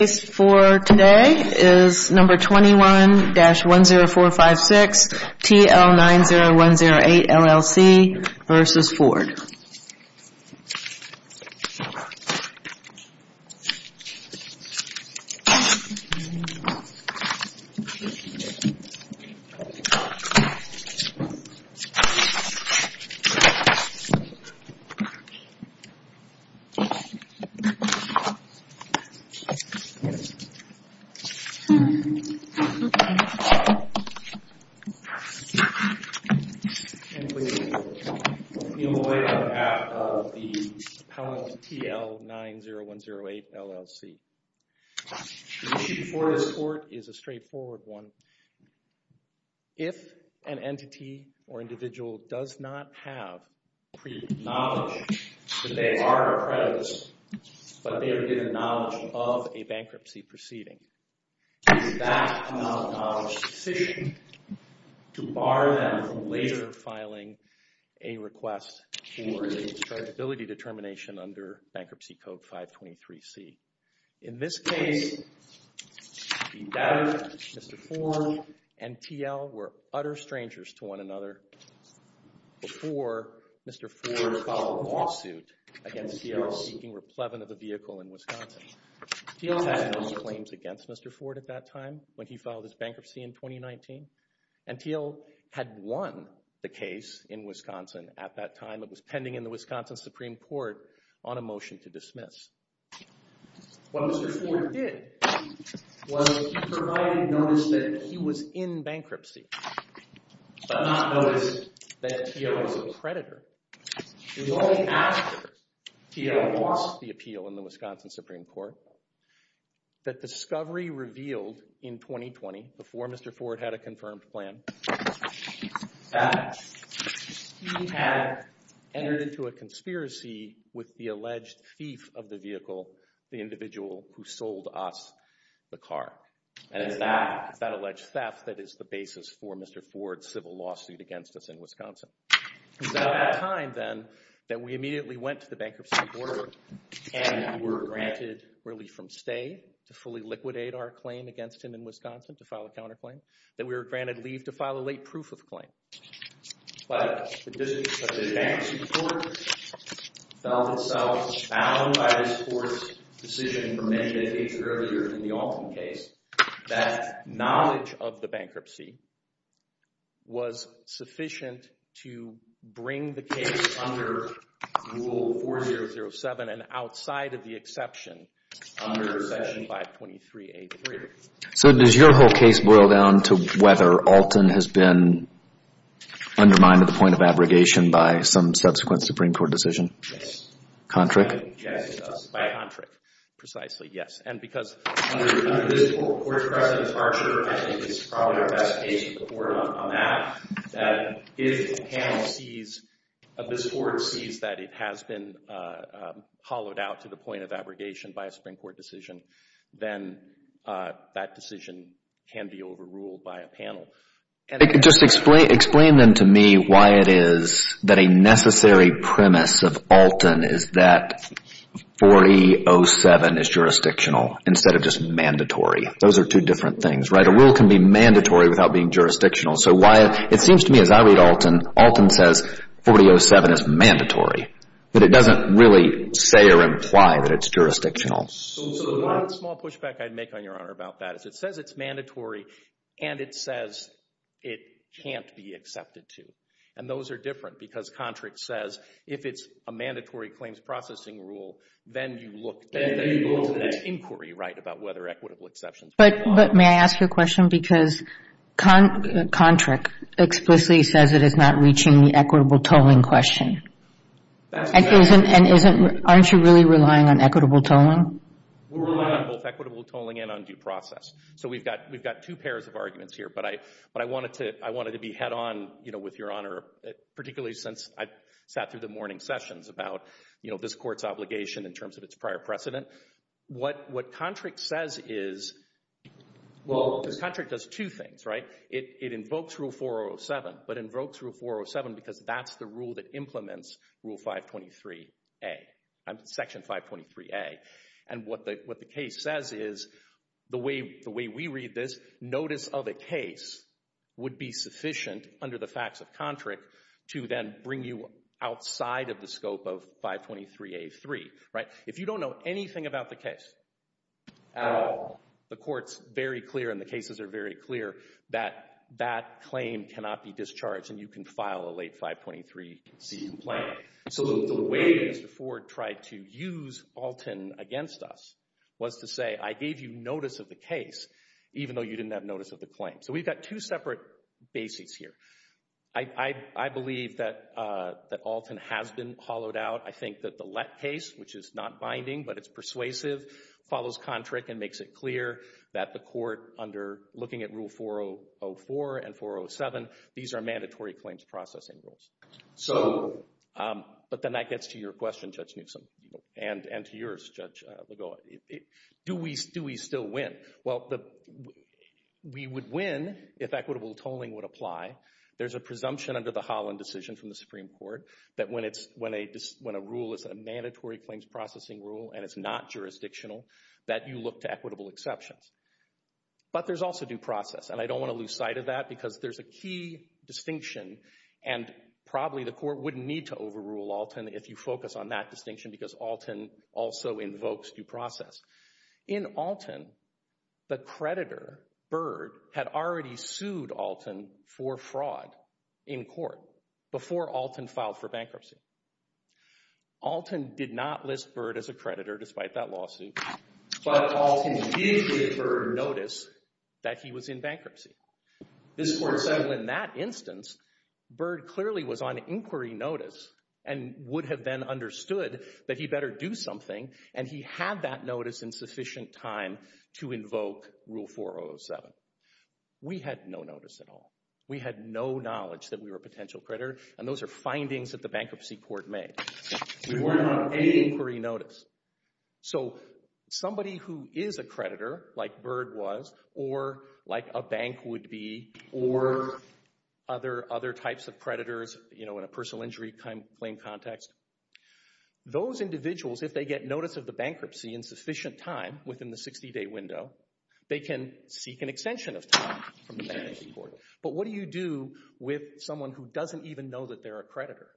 The case for today is number 21-10456 TL90108 LLC v. Ford. And please be on the way on behalf of the appellant TL90108 LLC. The issue before this court is a straightforward one. If an entity or individual does not have pre-knowledge that they are a predator, but they are given knowledge of a bankruptcy proceeding, is that a non-acknowledged decision to bar them from later filing a request for a chargeability determination under Bankruptcy Code 523C? In this case, Mr. Ford and TL were utter strangers to one another before Mr. Ford filed a lawsuit against TL seeking replevance of a vehicle in Wisconsin. TL had no claims against Mr. Ford at that time when he filed his bankruptcy in 2019, and TL had won the case in Wisconsin at that time. It was pending in the Wisconsin Supreme Court on a motion to dismiss. What Mr. Ford did was he provided notice that he was in bankruptcy, but not notice that TL was a predator. It was only after TL lost the appeal in the Wisconsin Supreme Court that discovery revealed in 2020, before Mr. Ford had a confirmed plan, that he had entered into a conspiracy with the alleged thief of the vehicle, the individual who sold us the car. And it's that alleged theft that is the basis for Mr. Ford's civil lawsuit against us in Wisconsin. It was at that time, then, that we immediately went to the bankruptcy board and we were granted relief from stay to fully liquidate our claim against him in Wisconsin, to file a counterclaim, that we were granted leave to file a late proof of claim. But the bankruptcy court felt itself bound by this court's decision from many decades earlier in the Alton case that knowledge of the bankruptcy was sufficient to bring the case under Rule 4007 and outside of the exception under Section 523A3. So does your whole case boil down to whether Alton has been undermined at the point of abrogation by some subsequent Supreme Court decision? Yes. Yes, it does. By Kontrick. Precisely, yes. And because under this court's precedent, it's probably our best case to report on that, that if the panel sees, if this court sees that it has been hollowed out to the point of abrogation by a Supreme Court decision, then that decision can be overruled by a panel. Just explain then to me why it is that a necessary premise of Alton is that 4007 is jurisdictional instead of just mandatory. Those are two different things, right? A rule can be mandatory without being jurisdictional. So why, it seems to me as I read Alton, Alton says 4007 is mandatory, but it doesn't really say or imply that it's jurisdictional. So the one small pushback I'd make on Your Honor about that is it says it's mandatory and it says it can't be accepted to. And those are different because Kontrick says if it's a mandatory claims processing rule, then you look, then you go into that inquiry, right, about whether equitable exceptions are required. But may I ask you a question? Because Kontrick explicitly says it is not reaching the equitable tolling question. And aren't you really relying on equitable tolling? We're relying on both equitable tolling and on due process. So we've got two pairs of arguments here. But I wanted to be head on with Your Honor, particularly since I sat through the morning sessions about this court's obligation in terms of its prior precedent. What Kontrick says is, well, Kontrick does two things, right? It invokes Rule 407, but invokes Rule 407 because that's the rule that implements Rule 523A, Section 523A. And what the case says is the way we read this, notice of a case would be sufficient under the facts of Kontrick to then bring you outside of the scope of 523A3, right? If you don't know anything about the case at all, the court's very clear and the cases are very clear that that claim cannot be discharged and you can file a late 523C complaint. So the way Mr. Ford tried to use Alton against us was to say, I gave you notice of the case, even though you didn't have notice of the claim. So we've got two separate bases here. I believe that Alton has been hollowed out. I think that the Lett case, which is not binding, but it's persuasive, follows Kontrick and makes it clear that the court, under looking at Rule 404 and 407, these are mandatory claims processing rules. So, but then that gets to your question, Judge Newsom, and to yours, Judge Legault. Do we still win? Well, we would win if equitable tolling would apply. There's a presumption under the Holland decision from the Supreme Court that when a rule is a mandatory claims processing rule and it's not jurisdictional, that you look to equitable exceptions. But there's also due process, and I don't want to lose sight of that because there's a key distinction and probably the court wouldn't need to overrule Alton if you focus on that distinction because Alton also invokes due process. In Alton, the creditor, Byrd, had already sued Alton for fraud in court before Alton filed for bankruptcy. Alton did not list Byrd as a creditor despite that lawsuit, but Alton did give Byrd notice that he was in bankruptcy. This court said in that instance, Byrd clearly was on inquiry notice and would have then understood that he better do something, and he had that notice in sufficient time to invoke Rule 4007. We had no notice at all. We had no knowledge that we were a potential creditor, and those are findings that the bankruptcy court made. We weren't on any inquiry notice. So somebody who is a creditor, like Byrd was, or like a bank would be, or other types of creditors in a personal injury claim context, those individuals, if they get notice of the bankruptcy in sufficient time within the 60-day window, they can seek an extension of time from the bankruptcy court. But what do you do with someone who doesn't even know that they're a creditor?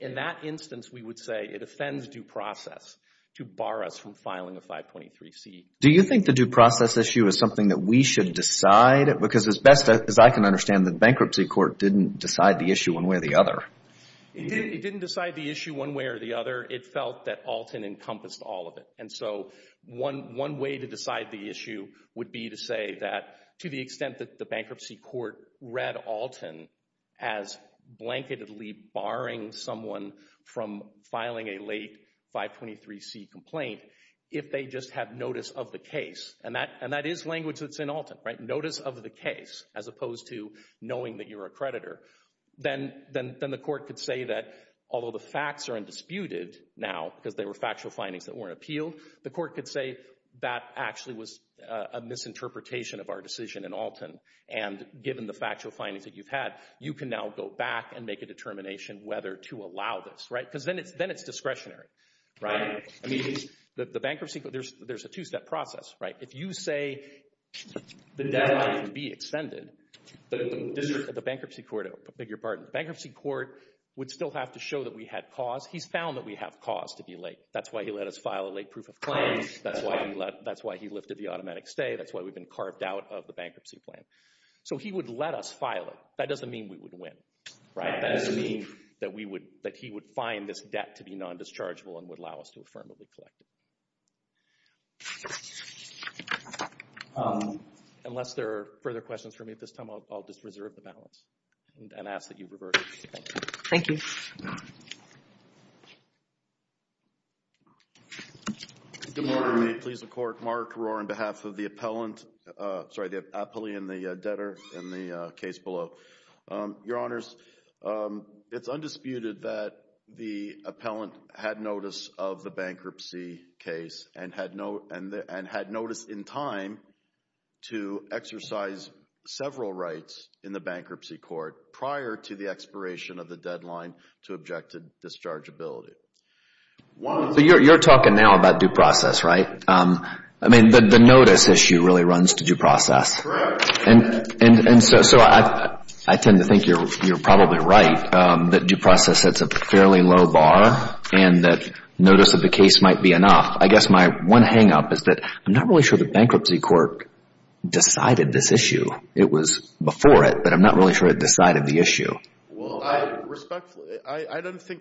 In that instance, we would say it offends due process to bar us from filing a 523C. Do you think the due process issue is something that we should decide? Because as best as I can understand, the bankruptcy court didn't decide the issue one way or the other. It didn't decide the issue one way or the other. It felt that Alton encompassed all of it, and so one way to decide the issue would be to say that to the extent that the bankruptcy court read Alton as blanketedly barring someone from filing a late 523C complaint, if they just have notice of the case, and that is language that's in Alton, right, notice of the case, as opposed to knowing that you're a creditor, then the court could say that, although the facts are undisputed now because they were factual findings that weren't appealed, the court could say that actually was a misinterpretation of our decision in Alton, and given the factual findings that you've had, you can now go back and make a determination whether to allow this, right, because then it's discretionary, right? I mean, the bankruptcy court, there's a two-step process, right? If you say the debt might be extended, the bankruptcy court would still have to show that we had cause. He's found that we have cause to be late. That's why he let us file a late proof of claim. That's why he lifted the automatic stay. That's why we've been carved out of the bankruptcy plan. So he would let us file it. That doesn't mean we would win, right? That doesn't mean that he would find this debt to be non-dischargeable and would allow us to affirmably collect it. Unless there are further questions for me at this time, I'll just reserve the balance and ask that you revert it. Thank you. Good morning. Please, the court, mark, roar on behalf of the appellant. Sorry, the appellee and the debtor in the case below. Your Honors, it's undisputed that the appellant had notice of the bankruptcy case and had notice in time to exercise several rights in the bankruptcy court prior to the expiration of the deadline to object to dischargeability. So you're talking now about due process, right? I mean, the notice issue really runs to due process. Correct. And so I tend to think you're probably right that due process sets a fairly low bar and that notice of the case might be enough. I guess my one hang-up is that I'm not really sure the bankruptcy court decided this issue. It was before it, but I'm not really sure it decided the issue. Well, respectfully, I don't think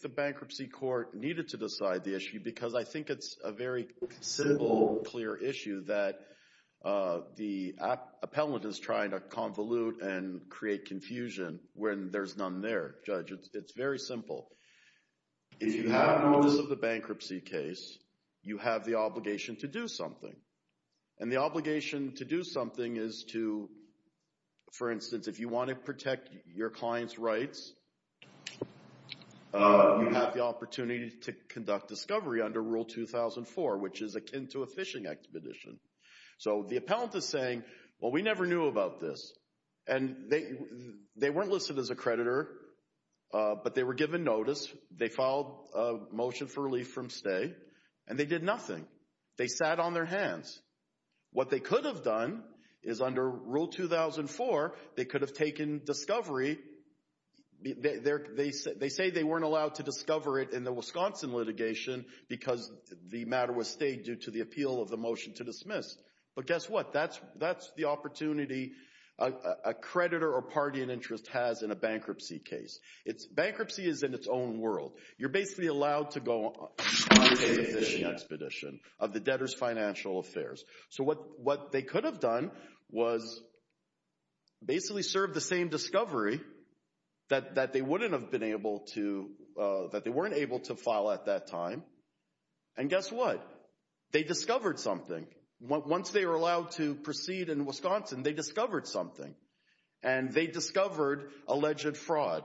the bankruptcy court needed to decide the issue because I think it's a very simple, clear issue that the appellant is trying to convolute and create confusion when there's none there, Judge. It's very simple. If you have notice of the bankruptcy case, you have the obligation to do something, and the obligation to do something is to, for instance, if you want to protect your client's rights, you have the opportunity to conduct discovery under Rule 2004, which is akin to a fishing expedition. So the appellant is saying, well, we never knew about this. And they weren't listed as a creditor, but they were given notice. They filed a motion for relief from stay, and they did nothing. They sat on their hands. What they could have done is, under Rule 2004, they could have taken discovery. They say they weren't allowed to discover it in the Wisconsin litigation because the matter was stayed due to the appeal of the motion to dismiss. But guess what? That's the opportunity a creditor or party in interest has in a bankruptcy case. Bankruptcy is in its own world. You're basically allowed to go on a fishing expedition of the debtor's financial affairs. So what they could have done was basically serve the same discovery that they wouldn't have been able to, that they weren't able to file at that time. And guess what? They discovered something. Once they were allowed to proceed in Wisconsin, they discovered something. And they discovered alleged fraud.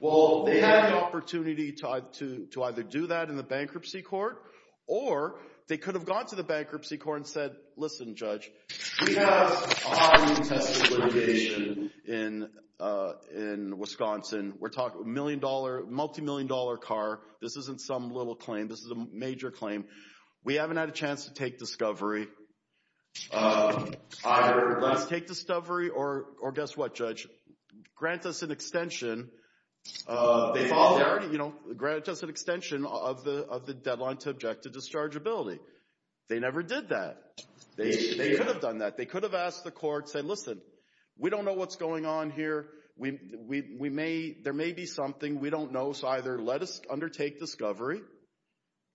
Well, they had the opportunity to either do that in the bankruptcy court or they could have gone to the bankruptcy court and said, Listen, Judge, we have a highly contested litigation in Wisconsin. We're talking a multimillion dollar car. This isn't some little claim. This is a major claim. We haven't had a chance to take discovery. Either let's take discovery or guess what, Judge? Grant us an extension of the deadline to object to dischargeability. They never did that. They could have done that. They could have asked the court, said, Listen, we don't know what's going on here. There may be something we don't know, so either let us undertake discovery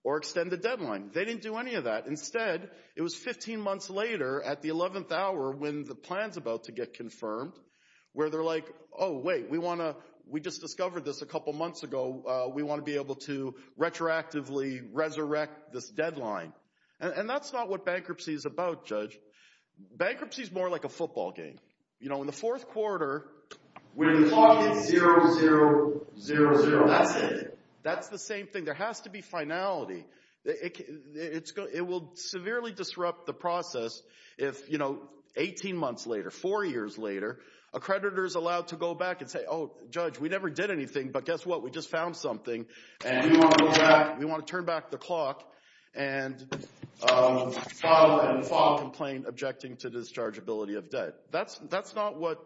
or extend the deadline. They didn't do any of that. Instead, it was 15 months later at the 11th hour when the plan's about to get confirmed where they're like, Oh, wait, we just discovered this a couple months ago. We want to be able to retroactively resurrect this deadline. And that's not what bankruptcy is about, Judge. Bankruptcy is more like a football game. In the fourth quarter, when the clock hits 0, 0, 0, 0, that's it. That's the same thing. There has to be finality. It will severely disrupt the process if, you know, 18 months later, four years later, a creditor is allowed to go back and say, Oh, Judge, we never did anything, but guess what? We just found something, and we want to turn back the clock and file a complaint objecting to dischargeability of debt. That's not what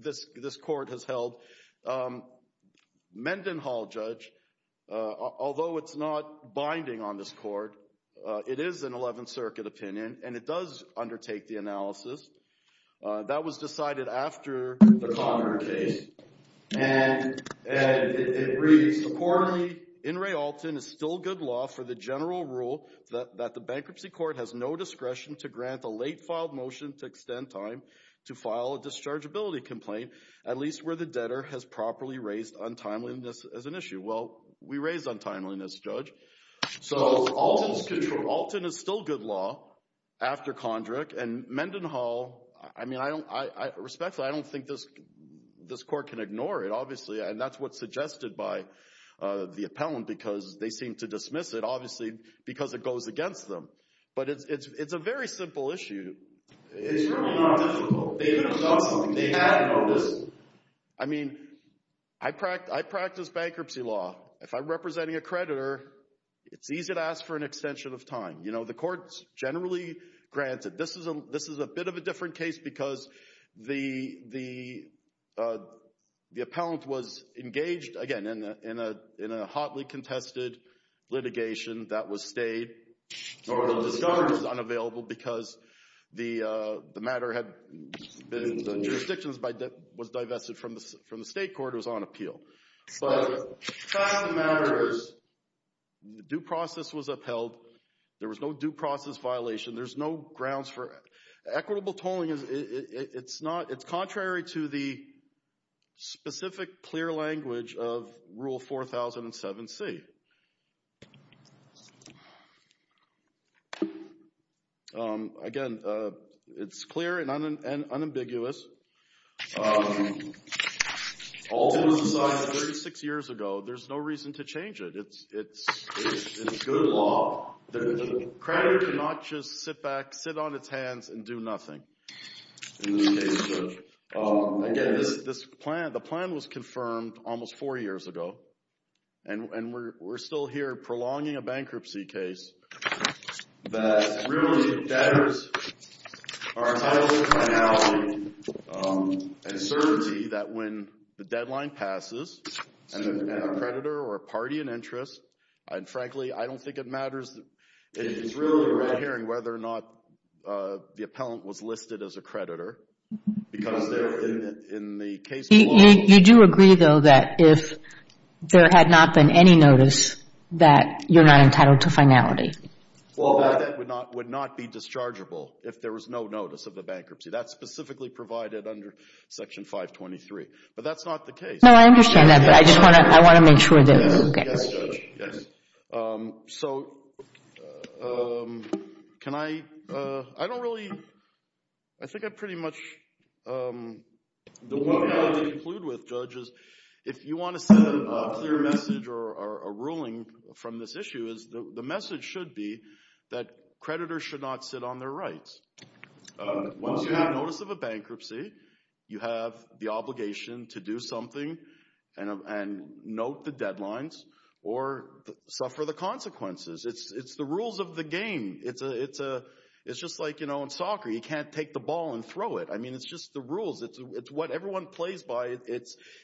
this court has held. Mendenhall, Judge, although it's not binding on this court, it is an 11th Circuit opinion, and it does undertake the analysis. That was decided after the Conrad case, and it reads, Accordingly, in Realton, it's still good law for the general rule that the bankruptcy court has no discretion to grant a late filed motion to extend time to file a dischargeability complaint, at least where the debtor has properly raised untimeliness as an issue. Well, we raised untimeliness, Judge. So Alton is still good law after Condrick, and Mendenhall, I mean, I respect that. I don't think this court can ignore it, obviously, and that's what's suggested by the appellant because they seem to dismiss it, obviously, because it goes against them. But it's a very simple issue. It's really not difficult. They've been discussing it. They have noticed it. I mean, I practice bankruptcy law. If I'm representing a creditor, it's easy to ask for an extension of time. You know, the court generally grants it. This is a bit of a different case because the appellant was engaged, again, in a hotly contested litigation that was stayed, or was discovered as unavailable because the matter had been in jurisdictions that was divested from the state court. It was on appeal. But the fact of the matter is the due process was upheld. There was no due process violation. There's no grounds for it. Equitable tolling, it's contrary to the specific clear language of Rule 4007C. Again, it's clear and unambiguous. All this was decided 36 years ago. There's no reason to change it. It's good law. The creditor cannot just sit back, sit on its hands, and do nothing. Again, the plan was confirmed almost four years ago, and we're still here prolonging a bankruptcy case that really datters our title, finality, and certainty that when the deadline passes, and a creditor or party in interest, and frankly, I don't think it matters. It's really right here in whether or not the appellant was listed as a creditor. Because in the case below. You do agree, though, that if there had not been any notice, that you're not entitled to finality. Well, that would not be dischargeable if there was no notice of the bankruptcy. That's specifically provided under Section 523. But that's not the case. No, I understand that, but I just want to make sure. Yes, Judge, yes. So can I? I don't really. I think I pretty much. The one thing I'll conclude with, Judge, is if you want to send a clear message or a ruling from this issue, is the message should be that creditors should not sit on their rights. Once you have notice of a bankruptcy, you have the obligation to do something and note the deadlines or suffer the consequences. It's the rules of the game. It's just like, you know, in soccer, you can't take the ball and throw it. I mean, it's just the rules. It's what everyone plays by.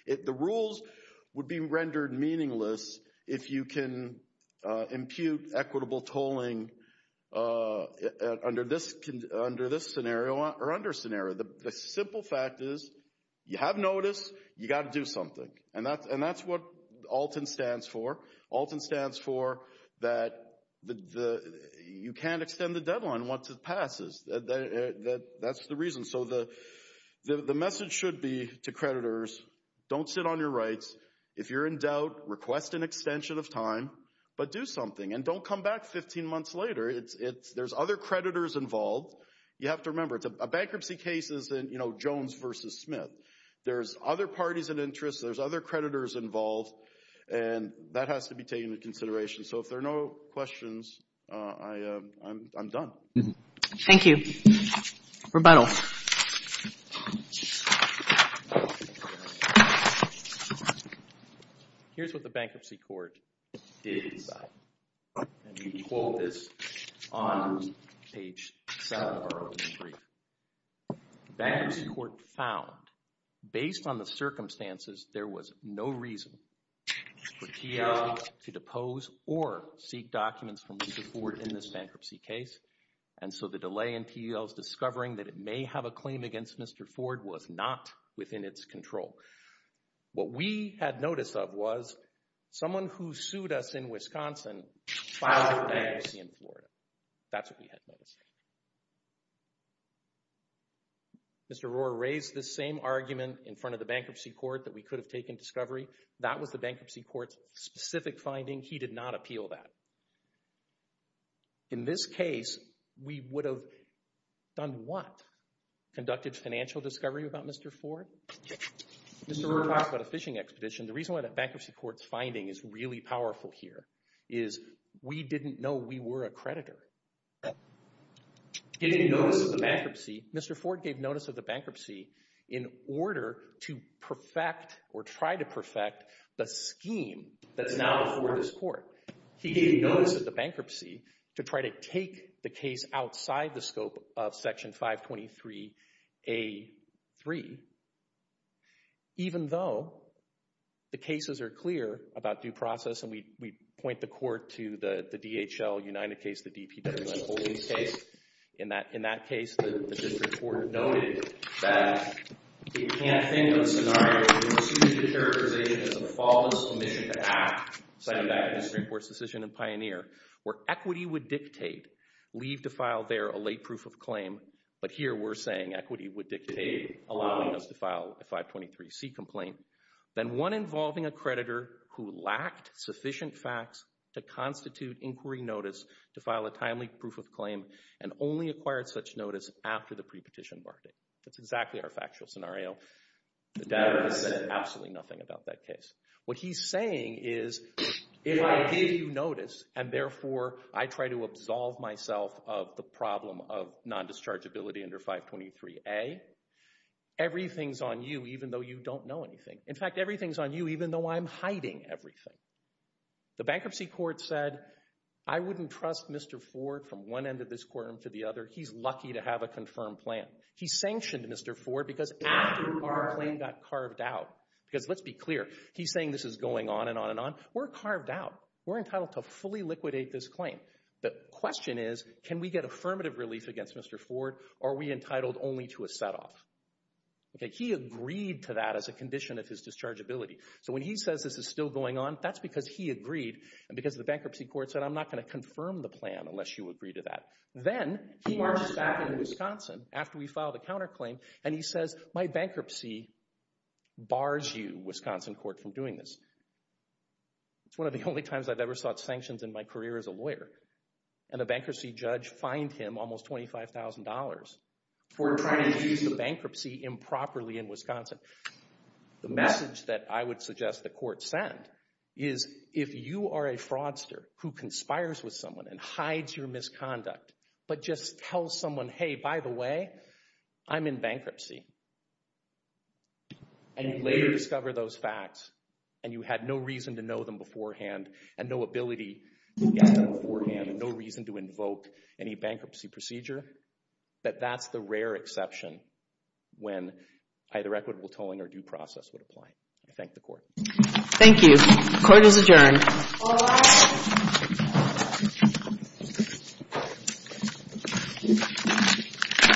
The rules would be rendered meaningless if you can impute equitable tolling under this scenario or under scenario. The simple fact is, you have notice, you've got to do something. And that's what ALTAN stands for. ALTAN stands for that you can't extend the deadline once it passes. That's the reason. So the message should be to creditors, don't sit on your rights. If you're in doubt, request an extension of time, but do something. And don't come back 15 months later. There's other creditors involved. You have to remember, a bankruptcy case isn't, you know, Jones versus Smith. There's other parties of interest. There's other creditors involved. And that has to be taken into consideration. So if there are no questions, I'm done. Thank you. Rebuttal. Here's what the bankruptcy court did. And we quote this on page 7 of our opening brief. Bankruptcy court found, based on the circumstances, there was no reason for T.L. to depose or seek documents from Mr. Ford in this bankruptcy case. And so the delay in T.L.'s discovering that it may have a claim against Mr. Ford was not within its control. What we had notice of was someone who sued us in Wisconsin filed for bankruptcy in Florida. That's what we had noticed. Mr. Rohrer raised this same argument in front of the bankruptcy court that we could have taken discovery. That was the bankruptcy court's specific finding. He did not appeal that. In this case, we would have done what? Conducted financial discovery about Mr. Ford? Mr. Rohrer talks about a fishing expedition. The reason why the bankruptcy court's finding is really powerful here is we didn't know we were a creditor. Mr. Ford gave notice of the bankruptcy in order to perfect or try to perfect the scheme that's now before this court. He gave notice of the bankruptcy to try to take the case outside the scope of Section 523A3. Even though the cases are clear about due process, and we point the court to the DHL-United case, the D.P. Wendlandt Holdings case. In that case, the district court noted that it can't think of a scenario where we will sue the characterization as a fallible mission to act, cited back in the Supreme Court's decision in Pioneer, where equity would dictate leave to file there a late proof of claim, but here we're saying equity would dictate allowing us to file a 523C complaint. Then one involving a creditor who lacked sufficient facts to constitute inquiry notice to file a timely proof of claim and only acquired such notice after the pre-petition bargaining. That's exactly our factual scenario. The data has said absolutely nothing about that case. What he's saying is, if I give you notice and therefore I try to absolve myself of the problem of non-dischargeability under 523A, everything's on you even though you don't know anything. In fact, everything's on you even though I'm hiding everything. The bankruptcy court said, I wouldn't trust Mr. Ford from one end of this courtroom to the other. He's lucky to have a confirmed plan. He sanctioned Mr. Ford because after our claim got carved out, because let's be clear, he's saying this is going on and on and on. We're carved out. We're entitled to fully liquidate this claim. The question is, can we get affirmative relief against Mr. Ford or are we entitled only to a set-off? He agreed to that as a condition of his dischargeability. So when he says this is still going on, that's because he agreed and because the bankruptcy court said, I'm not going to confirm the plan unless you agree to that. Then he marches back into Wisconsin after we filed a counterclaim and he says, my bankruptcy bars you, Wisconsin court, from doing this. It's one of the only times I've ever sought sanctions in my career as a lawyer. And a bankruptcy judge fined him almost $25,000 for trying to use the bankruptcy improperly in Wisconsin. The message that I would suggest the court send is, if you are a fraudster who conspires with someone and hides your misconduct but just tells someone, hey, by the way, I'm in bankruptcy and you later discover those facts and you had no reason to know them beforehand and no ability to get them beforehand and no reason to invoke any bankruptcy procedure, that that's the rare exception when either equitable tolling or due process would apply. I thank the court. Thank you. Court is adjourned. Thank you.